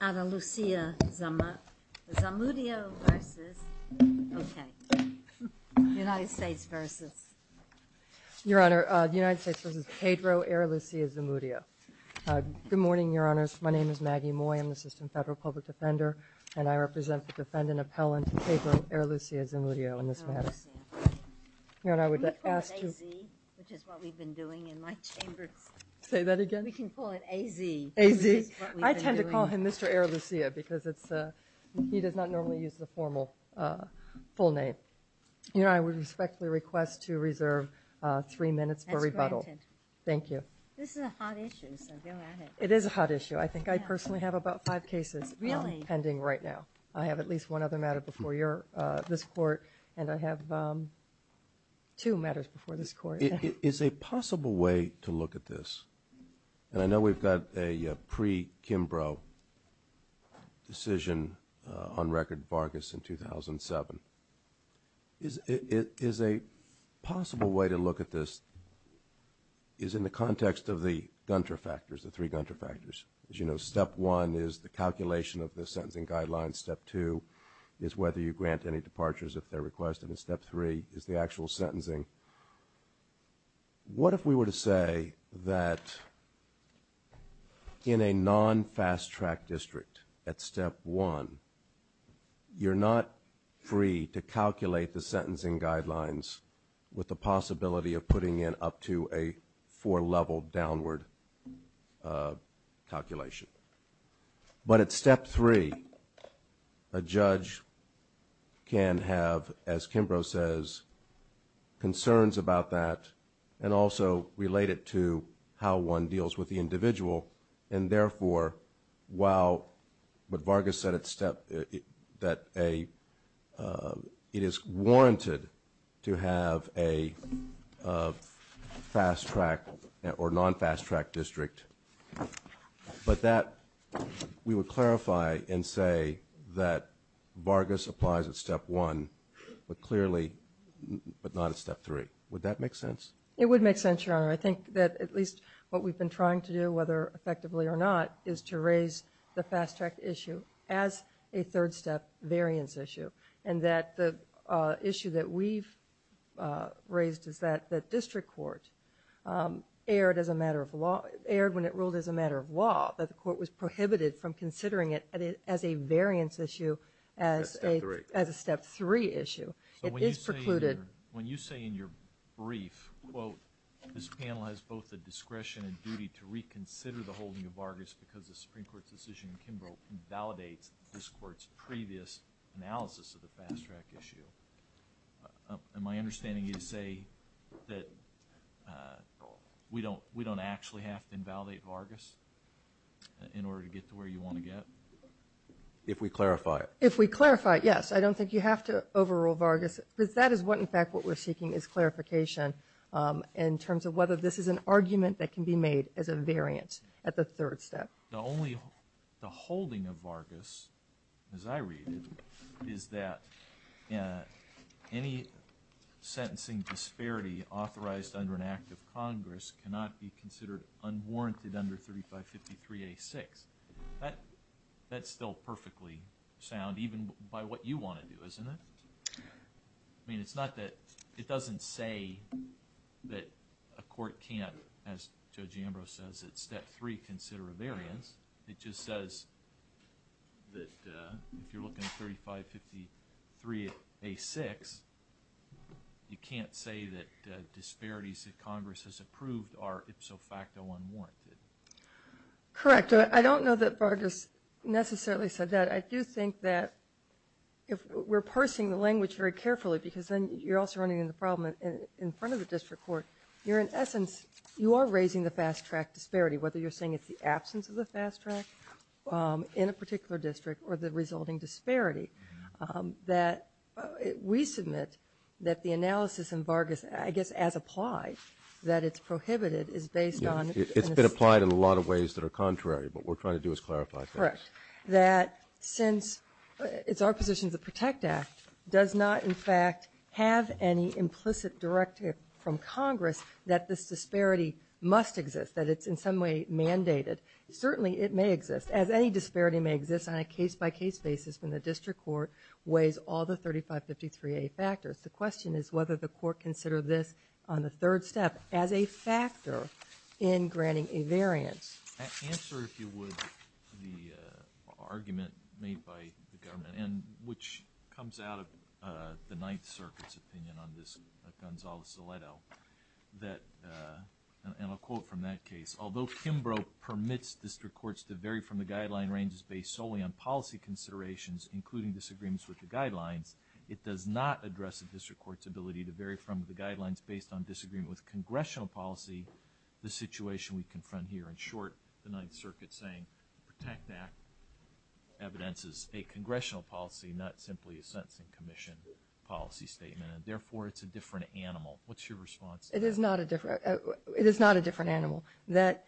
versus, okay, United States versus. Your Honor, United States versus Pedro Arrelucea-Zamudio. Good morning, Your Honors. My name is Maggie Moy. I'm the Assistant Federal Public Defender, and I represent the defendant appellant Pedro Arrelucea-Zamudio in this matter. Your Honor, I would ask to- Can we call it AZ, which is what we've been doing in my chambers? Say that again? We can call it AZ. AZ? Which is what we've been doing. I tend to call it AZ. We can call him Mr. Arrelucea because he does not normally use the formal full name. Your Honor, I would respectfully request to reserve three minutes for rebuttal. As granted. Thank you. This is a hot issue, so go at it. It is a hot issue. I think I personally have about five cases pending right now. I have at least one other matter before this Court, and I have two matters before this Court. Your Honor, is a possible way to look at this, and I know we've got a pre-Kimbrough decision on record Vargas in 2007. Is a possible way to look at this is in the context of the Gunter factors, the three Gunter factors. As you know, step one is the calculation of the sentencing guidelines. Step two is whether you grant any departures if they're requested, and step three is the What if we were to say that in a non-fast-track district at step one, you're not free to calculate the sentencing guidelines with the possibility of putting in up to a four-level downward calculation, but at step three a judge can have, as Kimbrough says, concerns about that, and also relate it to how one deals with the individual, and therefore while what Vargas said at step, that it is warranted to have a fast-track or non-fast-track district, but that we would clarify and say that Vargas applies at step one, but clearly, but not step three. Would that make sense? It would make sense, Your Honor. I think that at least what we've been trying to do, whether effectively or not, is to raise the fast-track issue as a third-step variance issue, and that the issue that we've raised is that the district court erred when it ruled as a matter of law, that the court was prohibited from considering it as a variance issue as a step three issue. So when you say in your brief, quote, this panel has both the discretion and duty to reconsider the holding of Vargas because the Supreme Court's decision in Kimbrough invalidates this court's previous analysis of the fast-track issue, am I understanding you to say that we don't actually have to invalidate Vargas in order to get to where you want to get? If we clarify it. If we clarify it, yes. I don't think you have to overrule Vargas because that is what in fact what we're seeking is clarification in terms of whether this is an argument that can be made as a variant at the third step. Now, only the holding of Vargas, as I read it, is that any sentencing disparity authorized under an act of Congress cannot be considered unwarranted under 3553A6. That's still perfectly sound even by what you want to do, isn't it? I mean, it's not that, it doesn't say that a court can't, as Judge Ambrose says, at step three consider a variance. It just says that if you're looking at 3553A6, you can't say that disparities that Congress has approved are ipso facto unwarranted. Correct. I don't know that Vargas necessarily said that. I do think that if we're parsing the language very carefully because then you're also running into the problem in front of the district court, you're in essence, you are raising the fast track disparity, whether you're saying it's the absence of the fast track in a particular district or the resulting disparity that we submit that the analysis in Vargas, I guess as applied, that it's prohibited is based on. It's been applied in a lot of ways that are contrary, but we're trying to do is clarify things. Correct. That since it's our position, the Protect Act does not in fact have any implicit directive from Congress that this disparity must exist, that it's in some way mandated. Certainly it may exist as any disparity may exist on a case by case basis when the district court weighs all the 3553A factors. The question is whether the court consider this on the third step as a factor in granting a variance. Answer, if you would, the argument made by the government and which comes out of the Ninth Circuit's opinion on this, Gonzalo Zaletto, that, and I'll quote from that case, although Kimbrough permits district courts to vary from the guideline ranges based solely on policy considerations, including disagreements with the guidelines, it does not address the district court's ability to vary from the guidelines based on disagreement with congressional policy, the situation we confront here. In short, the Ninth Circuit saying the Protect Act evidences a congressional policy, not simply a sentencing commission policy statement, and therefore it's a different animal. What's your response to that? It is not a different animal. That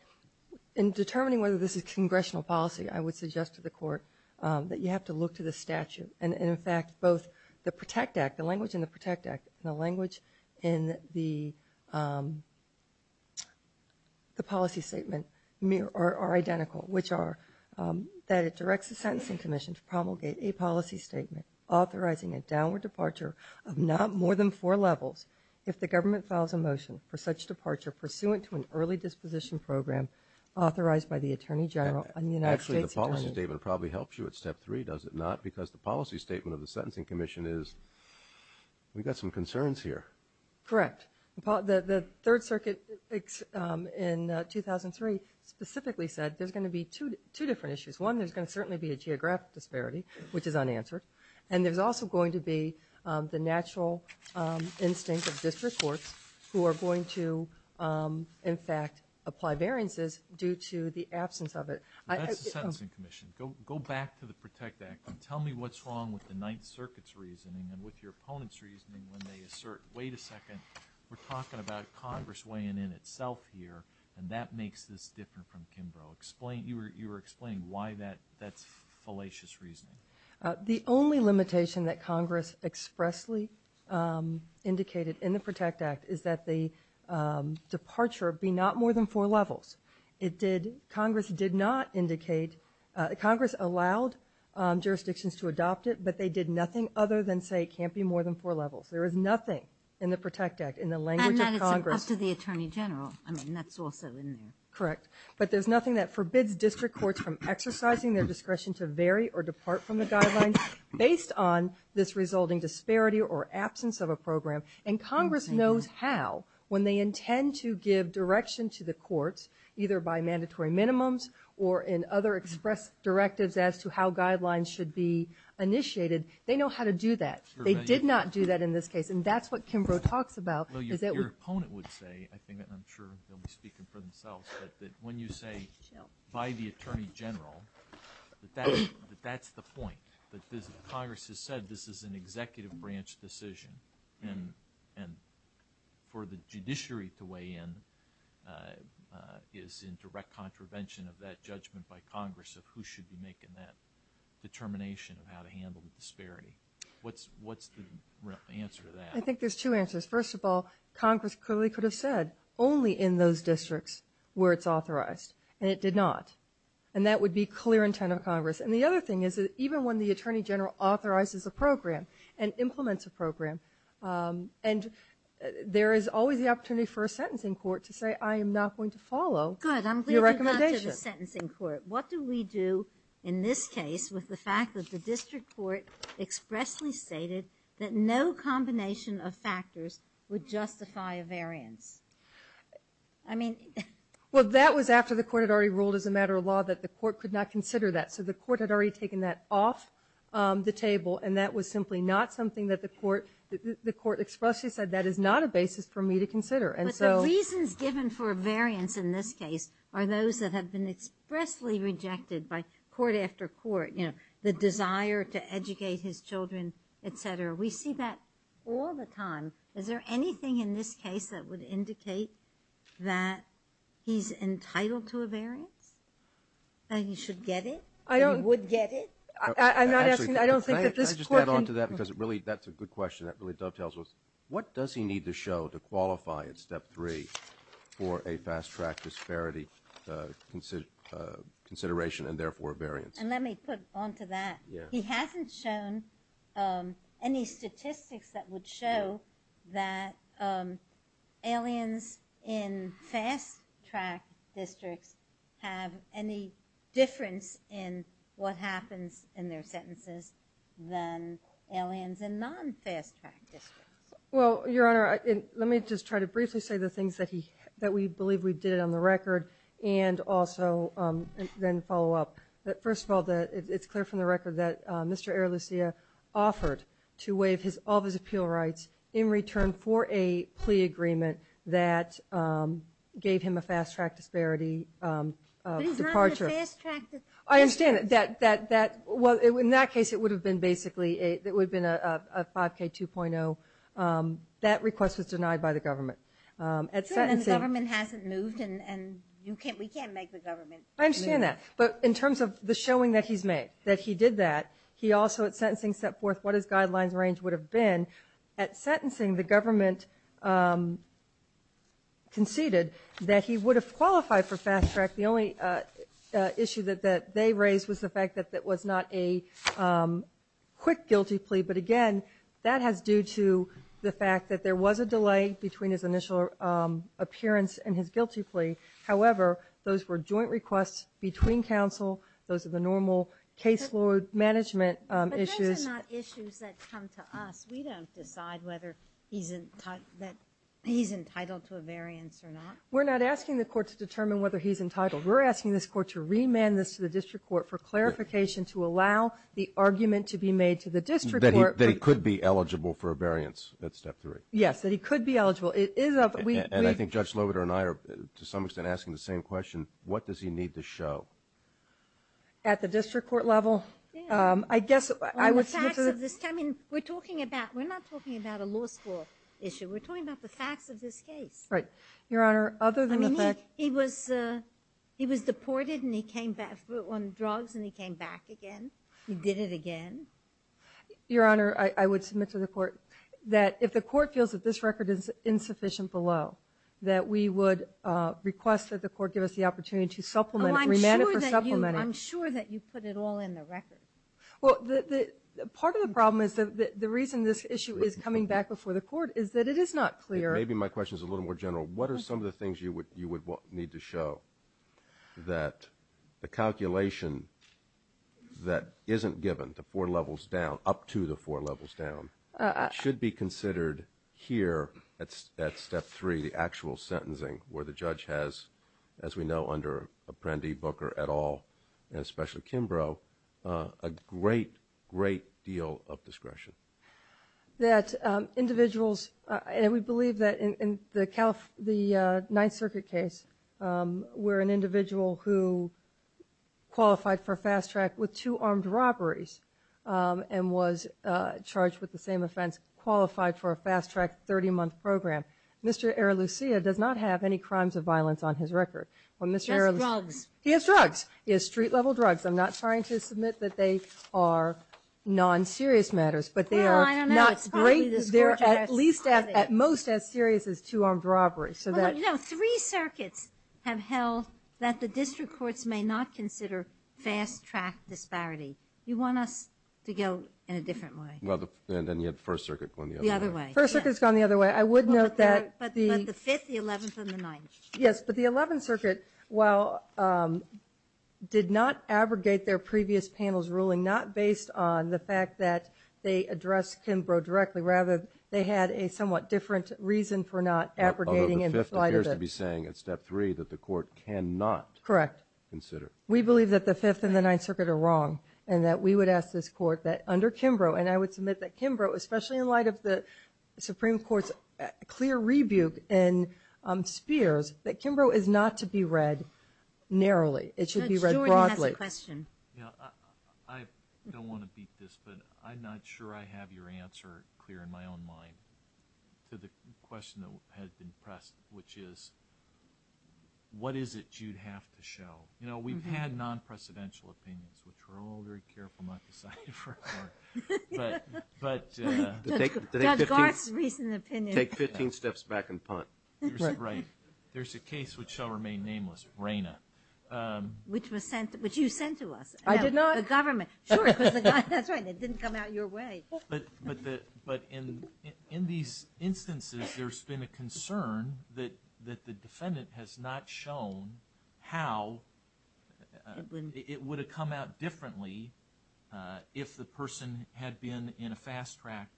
in determining whether this is congressional policy, I would suggest to the court that you have to look to the statute and, in fact, both the Protect Act, the language in the Protect Act and the language in the policy statement are identical, which are that it directs the sentencing commission to promulgate a policy statement authorizing a downward departure of not more than four levels if the government files a motion for such departure pursuant to an early disposition program authorized by the Attorney General and the United States Attorney General. Actually, the policy statement probably helps you at step three, does it not? Because the policy statement of the sentencing commission is, we've got some concerns here. Correct. The Third Circuit in 2003 specifically said there's going to be two different issues. One, there's going to certainly be a geographic disparity, which is unanswered, and there's also going to be the natural instinct of district courts who are going to, in fact, apply variances due to the absence of it. That's the sentencing commission. Go back to the Protect Act and tell me what's wrong with the Ninth Circuit's reasoning and with your opponent's reasoning when they assert, wait a second, we're talking about Congress weighing in itself here and that makes this different from Kimbrough. You were explaining why that's fallacious reasoning. The only limitation that Congress expressly indicated in the Protect Act is that the departure be not more than four levels. It did, Congress did not indicate, Congress allowed jurisdictions to adopt it, but they did nothing other than say it can't be more than four levels. There is nothing in the Protect Act, in the language of Congress. And that is up to the Attorney General. I mean, that's also in there. Correct. But there's nothing that forbids district courts from exercising their discretion to vary or depart from the guidelines based on this resulting disparity or absence of a program. And Congress knows how, when they intend to give direction to the courts, either by mandatory minimums or in other express directives as to how guidelines should be initiated. They know how to do that. They did not do that in this case. And that's what Kimbrough talks about. Well, your opponent would say, I'm sure they'll be speaking for themselves, that when you say, by the Attorney General, that that's the point, that Congress has said this is an executive branch decision. And for the judiciary to weigh in is in direct contravention of that judgment by Congress of who should be making that determination of how to handle the disparity. What's the answer to that? I think there's two answers. First of all, Congress clearly could have said, only in those districts were it's authorized. And it did not. And that would be clear intent of Congress. And the other thing is that even when the Attorney General authorizes a program and implements a program, and there is always the opportunity for a sentencing court to say, I am not going to follow your recommendation. Good. I'm glad you got to the sentencing court. What do we do in this case with the fact that the district court expressly stated that no combination of factors would justify a variance? I mean... Well, that was after the court had already ruled as a matter of law that the court could not consider that. So the court had already taken that off the table. And that was simply not something that the court expressly said, that is not a basis for me to consider. And so... But the reasons given for a variance in this case are those that have been expressly rejected by court after court, you know, the desire to educate his children, et cetera. We see that all the time. Is there anything in this case that would indicate that he's entitled to a variance? That he should get it? I don't... That he would get it? Actually... I'm not asking... I don't think that this court can... Can I just add on to that? Because it really, that's a good question. That really dovetails with, what does he need to show to qualify at step three for a fast track disparity consideration and therefore a variance? And let me put on to that. Yeah. He hasn't shown any statistics that would show that aliens in fast track districts have any difference in what happens in their sentences than aliens in non-fast track districts. Well, Your Honor, let me just try to briefly say the things that we believe we did on the record and also then follow up. First of all, it's clear from the record that Mr. Aralucia offered to waive all of his appeal rights in return for a plea agreement that gave him a fast track disparity departure. But he's not in a fast track... I understand that. Well, in that case, it would have been basically, it would have been a 5K 2.0. That request was denied by the government. And the government hasn't moved and we can't make the government move. I understand that. But in terms of the showing that he's made, that he did that, he also at sentencing set forth what his guidelines range would have been. At sentencing, the government conceded that he would have qualified for fast track. The only issue that they raised was the fact that that was not a quick guilty plea. But again, that has due to the fact that there was a delay between his initial appearance and his guilty plea. However, those were joint requests between counsel. Those are the normal case law management issues. But those are not issues that come to us. We don't decide whether he's entitled to a variance or not. We're not asking the court to determine whether he's entitled. We're asking this court to remand this to the district court for clarification to allow the argument to be made to the district court... That he could be eligible for a variance at step three. Yes, that he could be eligible. And I think Judge Sloboda and I are to some extent asking the same question. What does he need to show? At the district court level? I guess I would... On the facts of this... I mean, we're talking about... We're not talking about a law school issue. We're talking about the facts of this case. Right. Your Honor, other than the fact... I mean, he was deported and he came back on drugs and he came back again. He did it again. Your Honor, I would submit to the court that if the court feels that this record is insufficient below, that we would request that the court give us the opportunity to supplement it, remand it for supplementing. I'm sure that you put it all in the record. Well, part of the problem is that the reason this issue is coming back before the court is that it is not clear... Maybe my question is a little more general. What are some of the things you would need to show that the calculation that isn't given to four levels down, up to the four levels down, should be considered here at step three, the actual sentencing, where the judge has, as we know, under Apprendi, Booker, et al., and especially Kimbrough, a great, great deal of discretion? That individuals... And we believe that in the Ninth Circuit case, where an individual who qualified for fast track with two armed robberies and was charged with the same offense qualified for a fast track 30-month program, Mr. Aralucia does not have any crimes of violence on his record. He has drugs. He has drugs. He has street-level drugs. I'm not trying to submit that they are non-serious matters, but they are not great. Well, I don't know. It's probably the court has... They're at least, at most, as serious as two armed robberies. You know, three circuits have held that the district courts may not consider fast track disparity. You want us to go in a different way. And you had First Circuit going the other way. First Circuit's gone the other way. I would note that the... But the Fifth, the Eleventh, and the Ninth. Yes, but the Eleventh Circuit, while did not abrogate their previous panel's ruling, not based on the fact that they addressed Kimbrough directly, rather they had a somewhat different reason for not abrogating in light of it. Although the Fifth appears to be saying at Step 3 that the court cannot consider. Correct. We believe that the Fifth and the Ninth Circuit are wrong, and that we would ask this court that under Kimbrough, and I would submit that Kimbrough, especially in light of the Supreme Court's clear rebuke in Spears, that Kimbrough is not to be read narrowly. It should be read broadly. Judge Stewart has a question. I don't want to beat this, but I'm not sure I have your answer clear in my own mind to the question that had been pressed, which is, what is it you'd have to show? You know, we've had non-precedential opinions, which we're all very careful not to cite. But... Judge Garth's recent opinion... Take 15 steps back and punt. There's a case which shall remain nameless, Raina. Which you sent to us. I did not. The government. Sure. That's right. It didn't come out your way. But in these instances, there's been a concern that the defendant has not shown how it would have come out differently if the person had been in a fast-track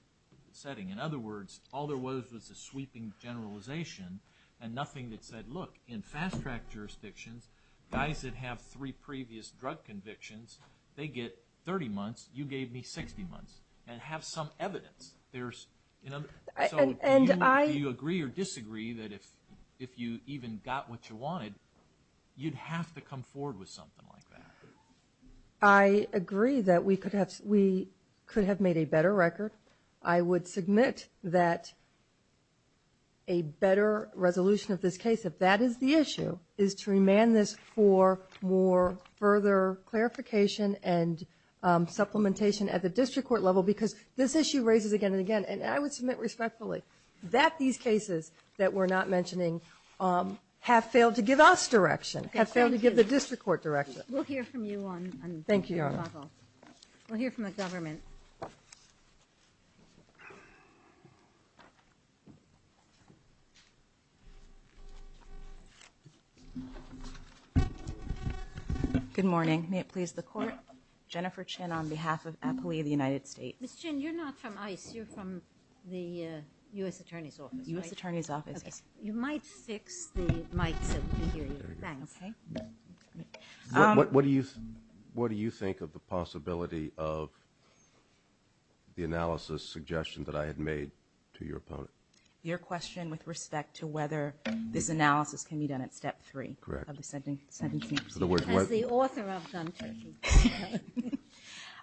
setting. In other words, all there was was a sweeping generalization and nothing that said, look, in fast-track jurisdictions, guys that have three previous drug convictions, they get 30 months, you gave me 60 months, and have some evidence. So do you agree or disagree that if you even got what you wanted, you'd have to come forward with something like that? I agree that we could have made a better record. I would submit that a better resolution of this case, if that is the issue, is to remand this for more further clarification and supplementation at the district court level because this issue raises again and again. And I would submit respectfully that these cases that we're not mentioning have failed to give us direction, have failed to give the district court direction. We'll hear from you on the rebuttal. Thank you, Your Honor. We'll hear from the government. Good morning. May it please the court. Jennifer Chin on behalf of APOEA of the United States. Ms. Chin, you're not from ICE. You're from the U.S. Attorney's Office, right? U.S. Attorney's Office. Okay. You might fix the mics so we can hear you. Thanks. Okay. What do you think of the possibility of the analysis suggestion that I had made to your opponent? Your question with respect to whether this analysis can be done at step three of the sentencing? Correct. As the author of them, too.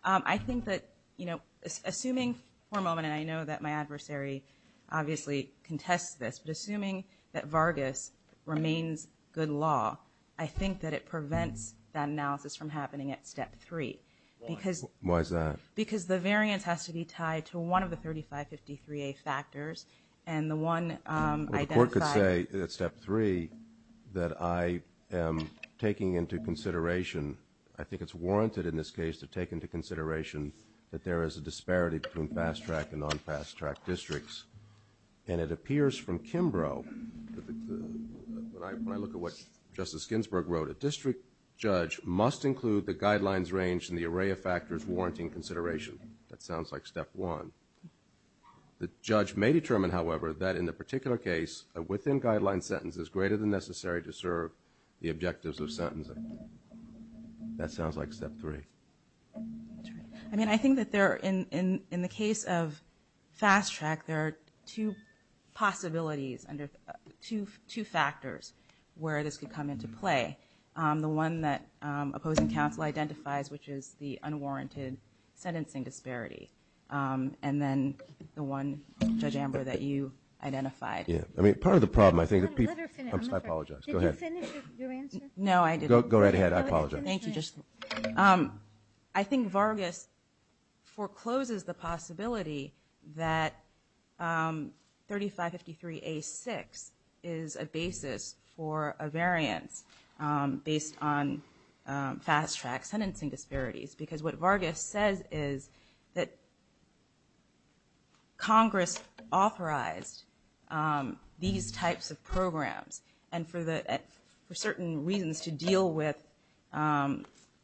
I think that, you know, assuming for a moment, and I know that my adversary obviously contests this, but assuming that Vargas remains good law, I think that it prevents that analysis from happening at step three. Why? Why is that? Because the variance has to be tied to one of the 3553A factors, and the one identified. Well, the court could say at step three that I am taking into consideration, I think it's warranted in this case to take into consideration that there is a disparity between fast-track and non-fast-track districts. And it appears from Kimbrough, when I look at what Justice Ginsburg wrote, a district judge must include the guidelines range in the array of factors warranting consideration. That sounds like step one. The judge may determine, however, that in the particular case, a within-guideline sentence is greater than necessary to serve the objectives of sentencing. That sounds like step three. I mean, I think that in the case of fast-track, there are two possibilities, two factors where this could come into play. The one that opposing counsel identifies, which is the unwarranted sentencing disparity, and then the one, Judge Amber, that you identified. Yeah. I mean, part of the problem, I think that people – I'm sorry. I apologize. Go ahead. Did you finish your answer? No, I didn't. Go right ahead. I apologize. Thank you. I think Vargas forecloses the possibility that 3553A6 is a basis for a variance based on fast-track sentencing disparities because what Vargas says is that Congress authorized these types of programs and for certain reasons to deal with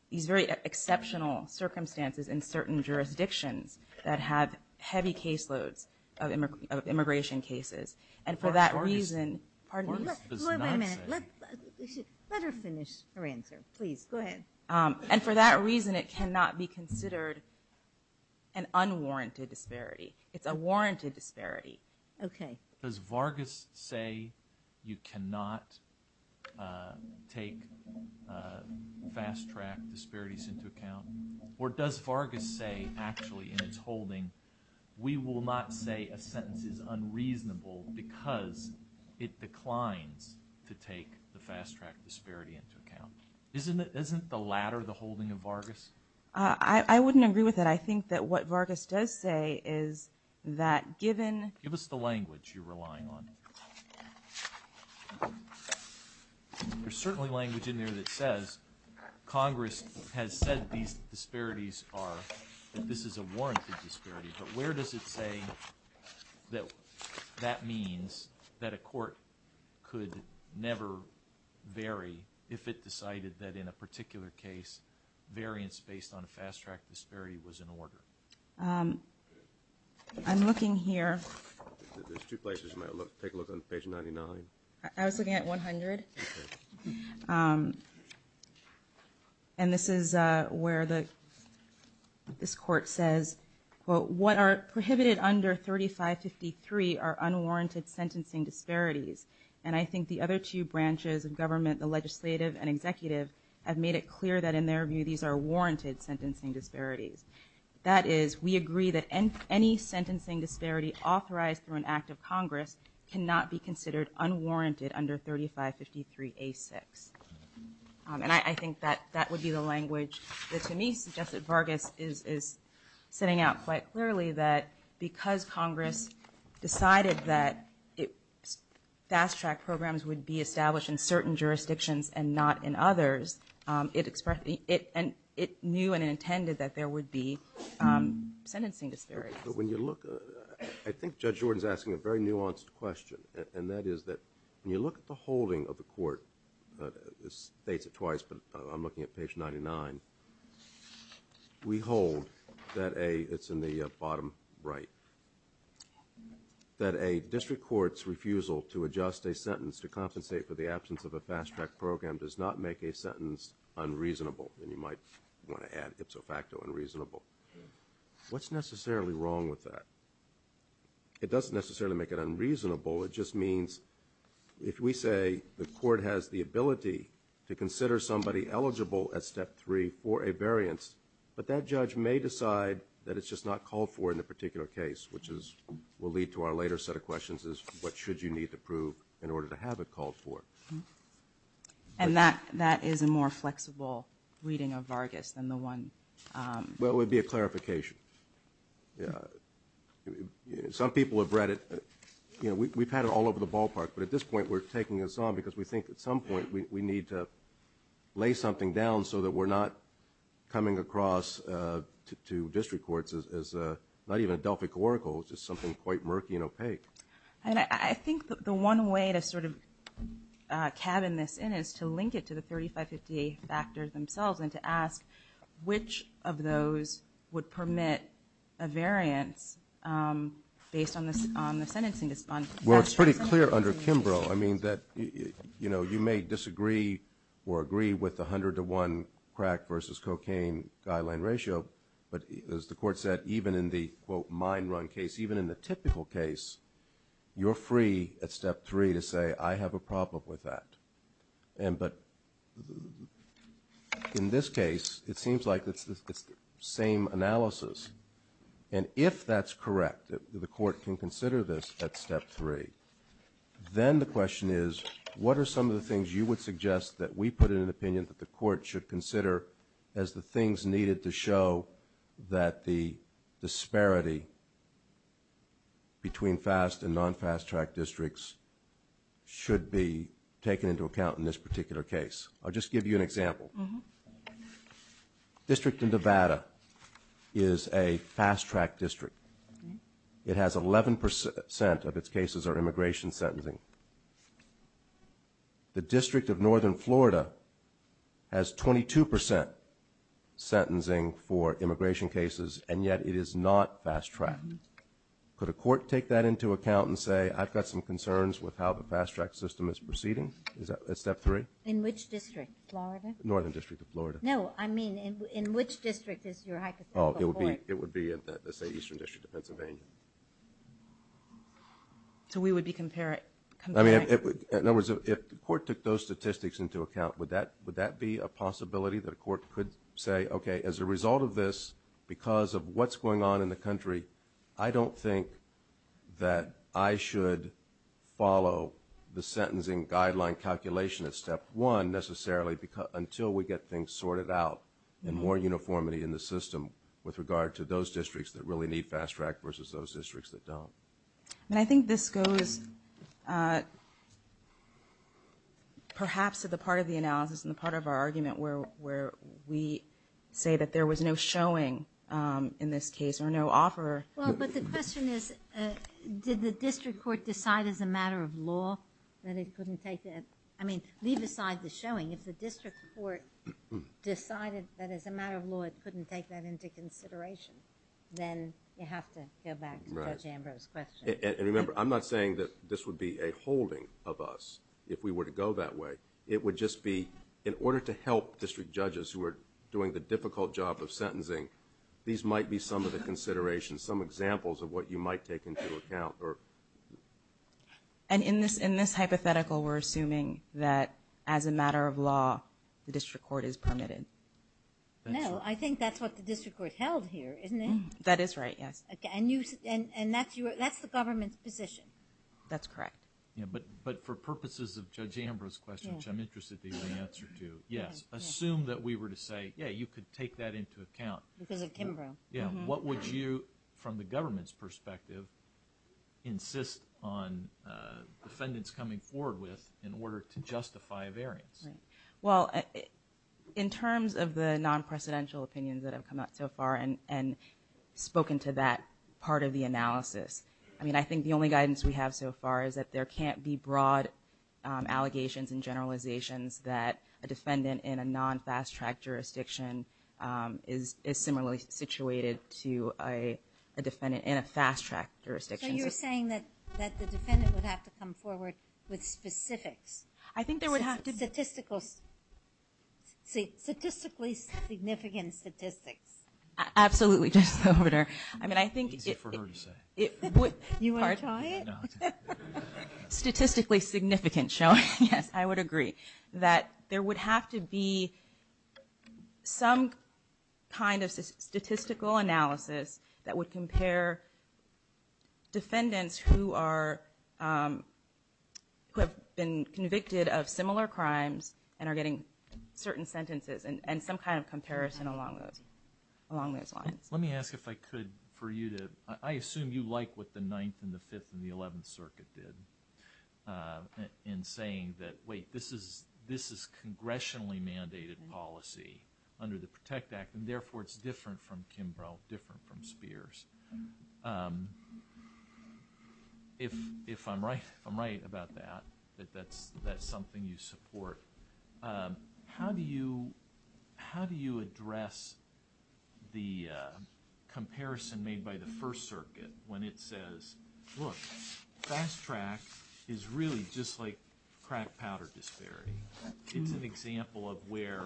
these very exceptional circumstances in certain jurisdictions that have heavy caseloads of immigration cases. And for that reason – Vargas does not say – Wait a minute. Let her finish her answer. Please, go ahead. And for that reason, it cannot be considered an unwarranted disparity. It's a warranted disparity. Okay. Does Vargas say you cannot take fast-track disparities into account? Or does Vargas say, actually, in its holding, we will not say a sentence is unreasonable because it declines to take the fast-track disparity into account? Isn't the latter the holding of Vargas? I wouldn't agree with that. But I think that what Vargas does say is that given – Give us the language you're relying on. There's certainly language in there that says Congress has said these disparities are – that this is a warranted disparity. But where does it say that that means that a court could never vary if it decided that in a particular case, variance based on a fast-track disparity was in order? I'm looking here. There's two places you might look. Take a look on page 99. I was looking at 100. Okay. And this is where the – this court says, quote, what are prohibited under 3553 are unwarranted sentencing disparities. And I think the other two branches of government, the legislative and executive, have made it clear that in their view these are warranted sentencing disparities. That is, we agree that any sentencing disparity authorized through an act of Congress cannot be considered unwarranted under 3553A6. And I think that that would be the language that to me suggests that Vargas is setting out quite clearly that because Congress decided that fast-track programs would be established in certain jurisdictions and not in others, it knew and intended that there would be sentencing disparities. But when you look – I think Judge Jordan is asking a very nuanced question, and that is that when you look at the holding of the court – this dates it twice, but I'm looking at page 99 – we hold that a – it's in the bottom right – that a district court's refusal to adjust a sentence to compensate for the absence of a fast-track program does not make a sentence unreasonable. And you might want to add ipso facto unreasonable. What's necessarily wrong with that? It doesn't necessarily make it unreasonable. It just means if we say the court has the ability to consider somebody eligible at Step 3 for a variance, but that judge may decide that it's just not called for in the particular case, which is – will lead to our later set of questions, is what should you need to prove in order to have it called for? And that is a more flexible reading of Vargas than the one – Well, it would be a clarification. Some people have read it – you know, we've had it all over the ballpark, but at this point we're taking us on because we think at some point we need to lay something down so that we're not coming across to district courts as not even a Delphic Oracle, just something quite murky and opaque. And I think the one way to sort of cabin this in is to link it to the 3550 factors themselves and to ask which of those would permit a variance based on the sentencing – Well, it's pretty clear under Kimbrough. I mean, you know, you may disagree or agree with the 100 to 1 crack versus cocaine guideline ratio, but as the court said, even in the, quote, mine run case, even in the typical case, you're free at Step 3 to say I have a problem with that. But in this case, it seems like it's the same analysis. And if that's correct, the court can consider this at Step 3, then the question is what are some of the things you would suggest that we put in an opinion that the court should consider as the things needed to show that the disparity between fast and non-fast-track districts should be taken into account in this particular case. I'll just give you an example. District in Nevada is a fast-track district. It has 11 percent of its cases are immigration sentencing. The District of Northern Florida has 22 percent sentencing for immigration cases, and yet it is not fast-tracked. Could a court take that into account and say, I've got some concerns with how the fast-track system is proceeding at Step 3? In which district? Florida? Northern District of Florida. No, I mean in which district is your hypothetical court? It would be, let's say, Eastern District of Pennsylvania. So we would be comparing? I mean, in other words, if the court took those statistics into account, would that be a possibility that a court could say, okay, as a result of this, because of what's going on in the country, I don't think that I should follow the sentencing guideline calculation at Step 1 necessarily until we get things sorted out and more uniformity in the system with regard to those districts that really need fast-track versus those districts that don't. And I think this goes perhaps to the part of the analysis and the part of our argument where we say that there was no showing in this case or no offer. Well, but the question is, did the district court decide as a matter of law that it couldn't take that? I mean, leave aside the showing. If the district court decided that as a matter of law it couldn't take that into consideration, then you have to go back to Judge Ambrose's question. And remember, I'm not saying that this would be a holding of us if we were to go that way. It would just be in order to help district judges who are doing the difficult job of sentencing, these might be some of the considerations, some examples of what you might take into account. And in this hypothetical, we're assuming that as a matter of law, the district court is permitted. No, I think that's what the district court held here, isn't it? That is right, yes. And that's the government's position? That's correct. Yeah, but for purposes of Judge Ambrose's question, which I'm interested to hear the answer to, yes. Assume that we were to say, yeah, you could take that into account. Because of Kimbrough. Yeah. What would you, from the government's perspective, insist on defendants coming forward with in order to justify a variance? Well, in terms of the non-precedential opinions that have come out so far and spoken to that part of the analysis, I mean, I think the only guidance we have so far is that there can't be broad allegations and generalizations that a defendant in a non-fast-track jurisdiction is similarly situated to a defendant in a fast-track jurisdiction. So you're saying that the defendant would have to come forward with specifics? I think there would have to be. Statistically significant statistics. Absolutely. I mean, I think it would. You want to try it? Statistically significant showing, yes, I would agree. That there would have to be some kind of statistical analysis that would compare defendants who have been convicted of similar crimes and are getting certain sentences and some kind of comparison along those lines. Let me ask if I could for you to, I assume you like what the Ninth and the Fifth and the Eleventh Circuit did in saying that, wait, this is congressionally mandated policy under the PROTECT Act, and therefore it's different from Kimbrough, different from Spears. If I'm right about that, that that's something you support, how do you address the comparison made by the First Circuit when it says, look, fast-track is really just like crack powder disparity. It's an example of where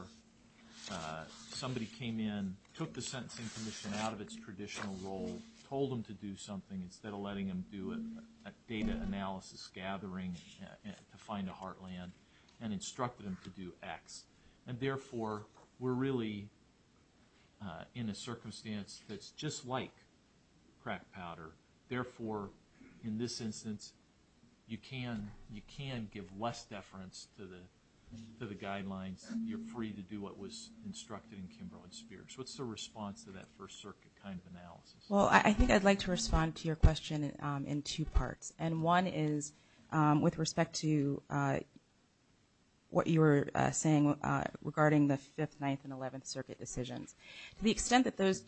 somebody came in, took the Sentencing Commission out of its traditional role, told them to do something instead of letting them do it, a data analysis gathering to find a heartland, and instructed them to do X. And therefore, we're really in a circumstance that's just like crack powder. Therefore, in this instance, you can give less deference to the guidelines. You're free to do what was instructed in Kimbrough and Spears. What's the response to that First Circuit kind of analysis? Well, I think I'd like to respond to your question in two parts. And one is with respect to what you were saying regarding the Fifth, Ninth, and Eleventh Circuit decisions. To the extent that those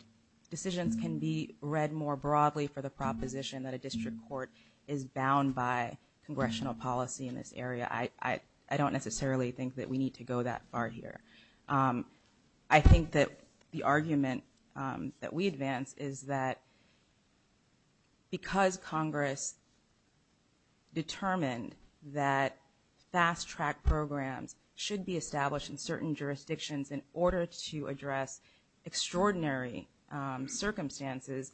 decisions can be read more broadly for the proposition that a district court is bound by congressional policy in this area, I don't necessarily think that we need to go that far here. I think that the argument that we advance is that because Congress determined that fast-track programs should be established in certain jurisdictions in order to address extraordinary circumstances,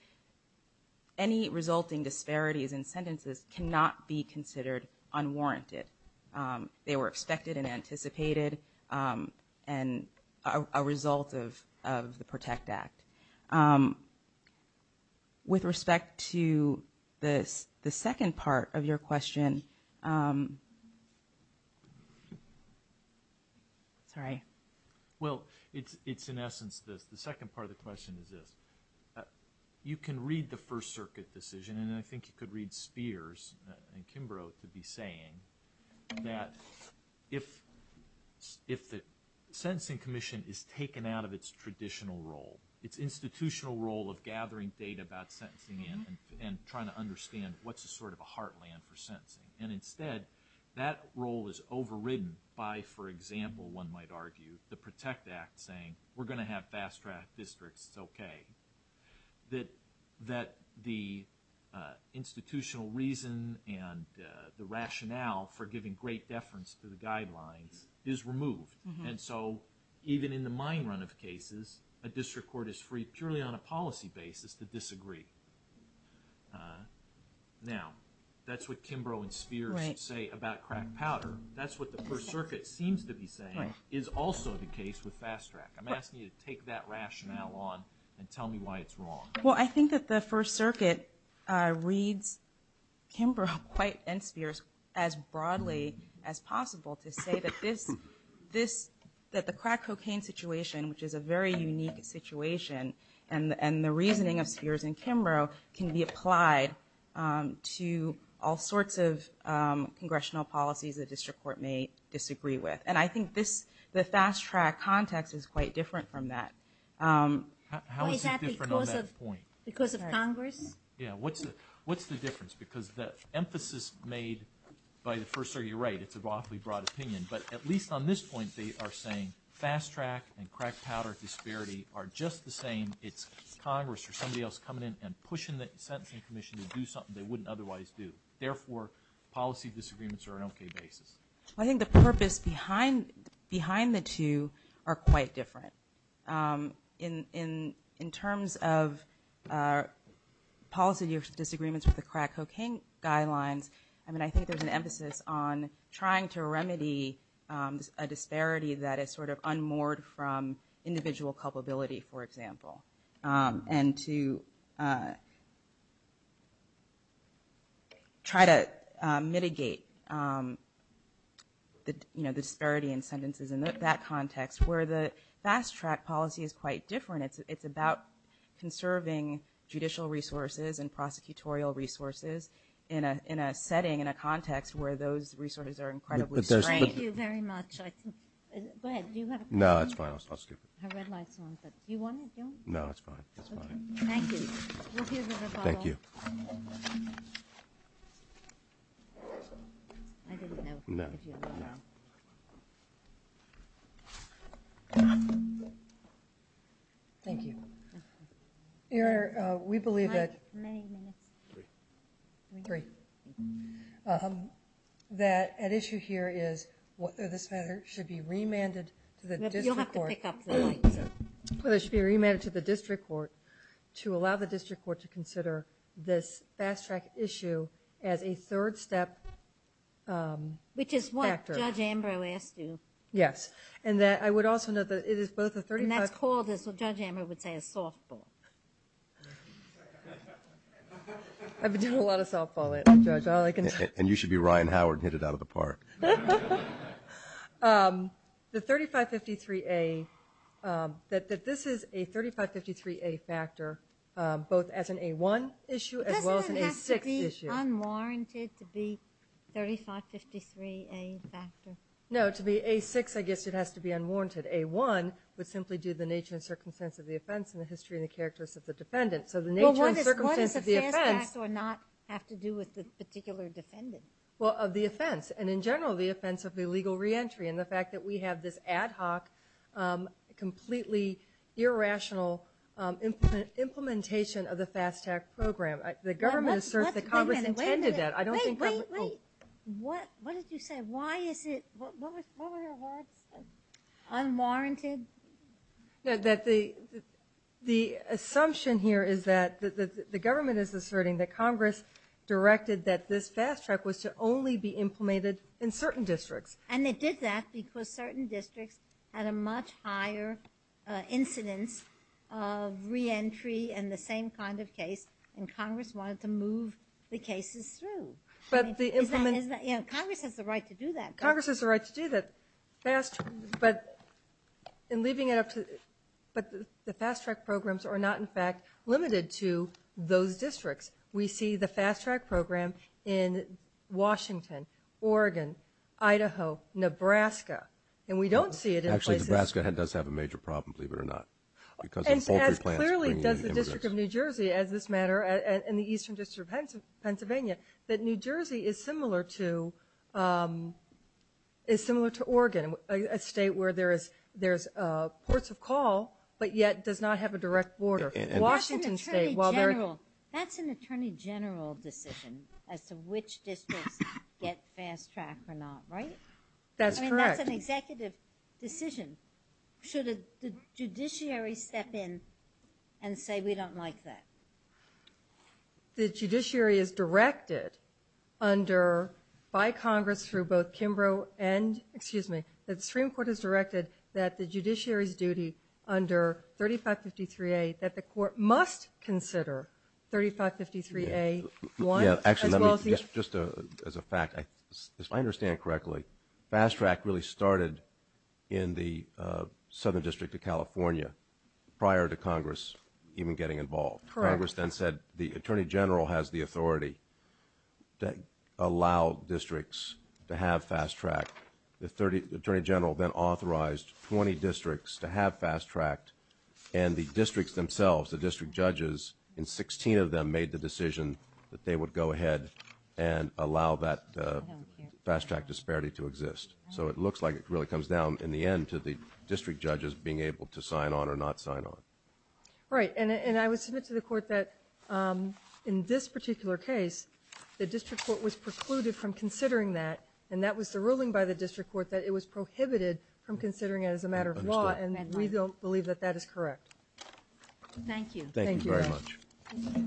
any resulting disparities in sentences cannot be considered unwarranted. They were expected and anticipated and a result of the PROTECT Act. With respect to the second part of your question, you can read the First Circuit decision, and I think you could read Spears and Kimbrough to be saying that if the Sentencing Commission is taken out of its traditional role, its institutional role of gathering data about sentencing and trying to understand what's a sort of a heartland for sentencing. And instead, that role is overridden by, for example, one might argue, the PROTECT Act saying, we're going to have fast-track districts, it's okay. That the institutional reason and the rationale for giving great deference to the guidelines is removed. And so even in the mine run of cases, a district court is free purely on a policy basis to disagree. Now, that's what Kimbrough and Spears say about crack powder. That's what the First Circuit seems to be saying is also the case with fast-track. I'm asking you to take that rationale on and tell me why it's wrong. Well, I think that the First Circuit reads Kimbrough quite and Spears as broadly as possible to say that the crack cocaine situation, which is a very unique situation, and the reasoning of Spears and Kimbrough can be applied to all sorts of congressional policies the district court may disagree with. And I think the fast-track context is quite different from that. How is it different on that point? Because of Congress? Yeah, what's the difference? Because the emphasis made by the First Circuit, you're right, it's an awfully broad opinion, but at least on this point, they are saying fast-track and crack powder disparity are just the same. It's Congress or somebody else coming in and pushing the Sentencing Commission to do something they wouldn't otherwise do. Therefore, policy disagreements are an okay basis. I think the purpose behind the two are quite different. In terms of policy disagreements with the crack cocaine guidelines, I think there's an emphasis on trying to remedy a disparity that is sort of unmoored from individual culpability, for example, and to try to mitigate the disparity in sentences in that context where the fast-track policy is quite different. It's about conserving judicial resources and prosecutorial resources in a setting, in a context where those resources are incredibly strained. Thank you very much. Go ahead. Do you have a question? No, that's fine. I'll skip it. I read last one, but do you want to do it? No, that's fine. Thank you. We'll give it a follow-up. Thank you. I didn't know if you had a follow-up. Thank you. Your Honor, we believe that issue here is this matter should be remanded to the district court. You'll have to pick up the mic. It should be remanded to the district court to allow the district court to consider this fast-track issue as a third-step factor. Which is what Judge Ambrose asked you. Yes, and I would also note that it is both a 35- and a 6-issue. If I was called, Judge Ambrose would say a softball. I've been doing a lot of softball lately, Judge. And you should be Ryan Howard and hit it out of the park. The 3553A, that this is a 3553A factor both as an A1 issue as well as an A6 issue. Doesn't it have to be unwarranted to be 3553A factor? No, to be A6, I guess it has to be unwarranted. A1 would simply do the nature and circumstance of the offense and the history and the characteristics of the defendant. So the nature and circumstance of the offense. Well, what does a fast-track not have to do with the particular defendant? Well, of the offense, and in general, the offense of illegal reentry and the fact that we have this ad hoc, completely irrational implementation of the fast-track program. The government asserts that Congress intended that. Wait a minute. What did you say? Why is it unwarranted? The assumption here is that the government is asserting that Congress directed that this fast-track was to only be implemented in certain districts. And it did that because certain districts had a much higher incidence of reentry and the same kind of case, and Congress wanted to move the cases through. Congress has the right to do that. Congress has the right to do that. But in leaving it up to the fast-track programs are not, in fact, limited to those districts. We see the fast-track program in Washington, Oregon, Idaho, Nebraska, and we don't see it in places. Actually, Nebraska does have a major problem, believe it or not, because of poultry plants bringing in immigrants. And as clearly does the District of New Jersey, as this matter, and the Eastern District of Pennsylvania, that New Jersey is similar to Oregon, a state where there's ports of call but yet does not have a direct border. That's an attorney general decision as to which districts get fast-track or not, right? That's correct. I mean, that's an executive decision. Should the judiciary step in and say we don't like that? The judiciary is directed under, by Congress through both Kimbrough and, excuse me, the Supreme Court has directed that the judiciary's duty under 3553A, that the court must consider 3553A. Actually, just as a fact, if I understand correctly, fast-track really started in the Southern District of California prior to Congress even getting involved. Correct. Congress then said the attorney general has the authority to allow districts to have fast-track. The attorney general then authorized 20 districts to have fast-track, and the districts themselves, the district judges, and 16 of them made the decision that they would go ahead and allow that fast-track disparity to exist. So it looks like it really comes down in the end to the district judges being able to sign on or not sign on. Right, and I would submit to the court that in this particular case, the district court was precluded from considering that, and that was the ruling by the district court that it was prohibited from considering it as a matter of law, and we don't believe that that is correct. Thank you. Thank you very much.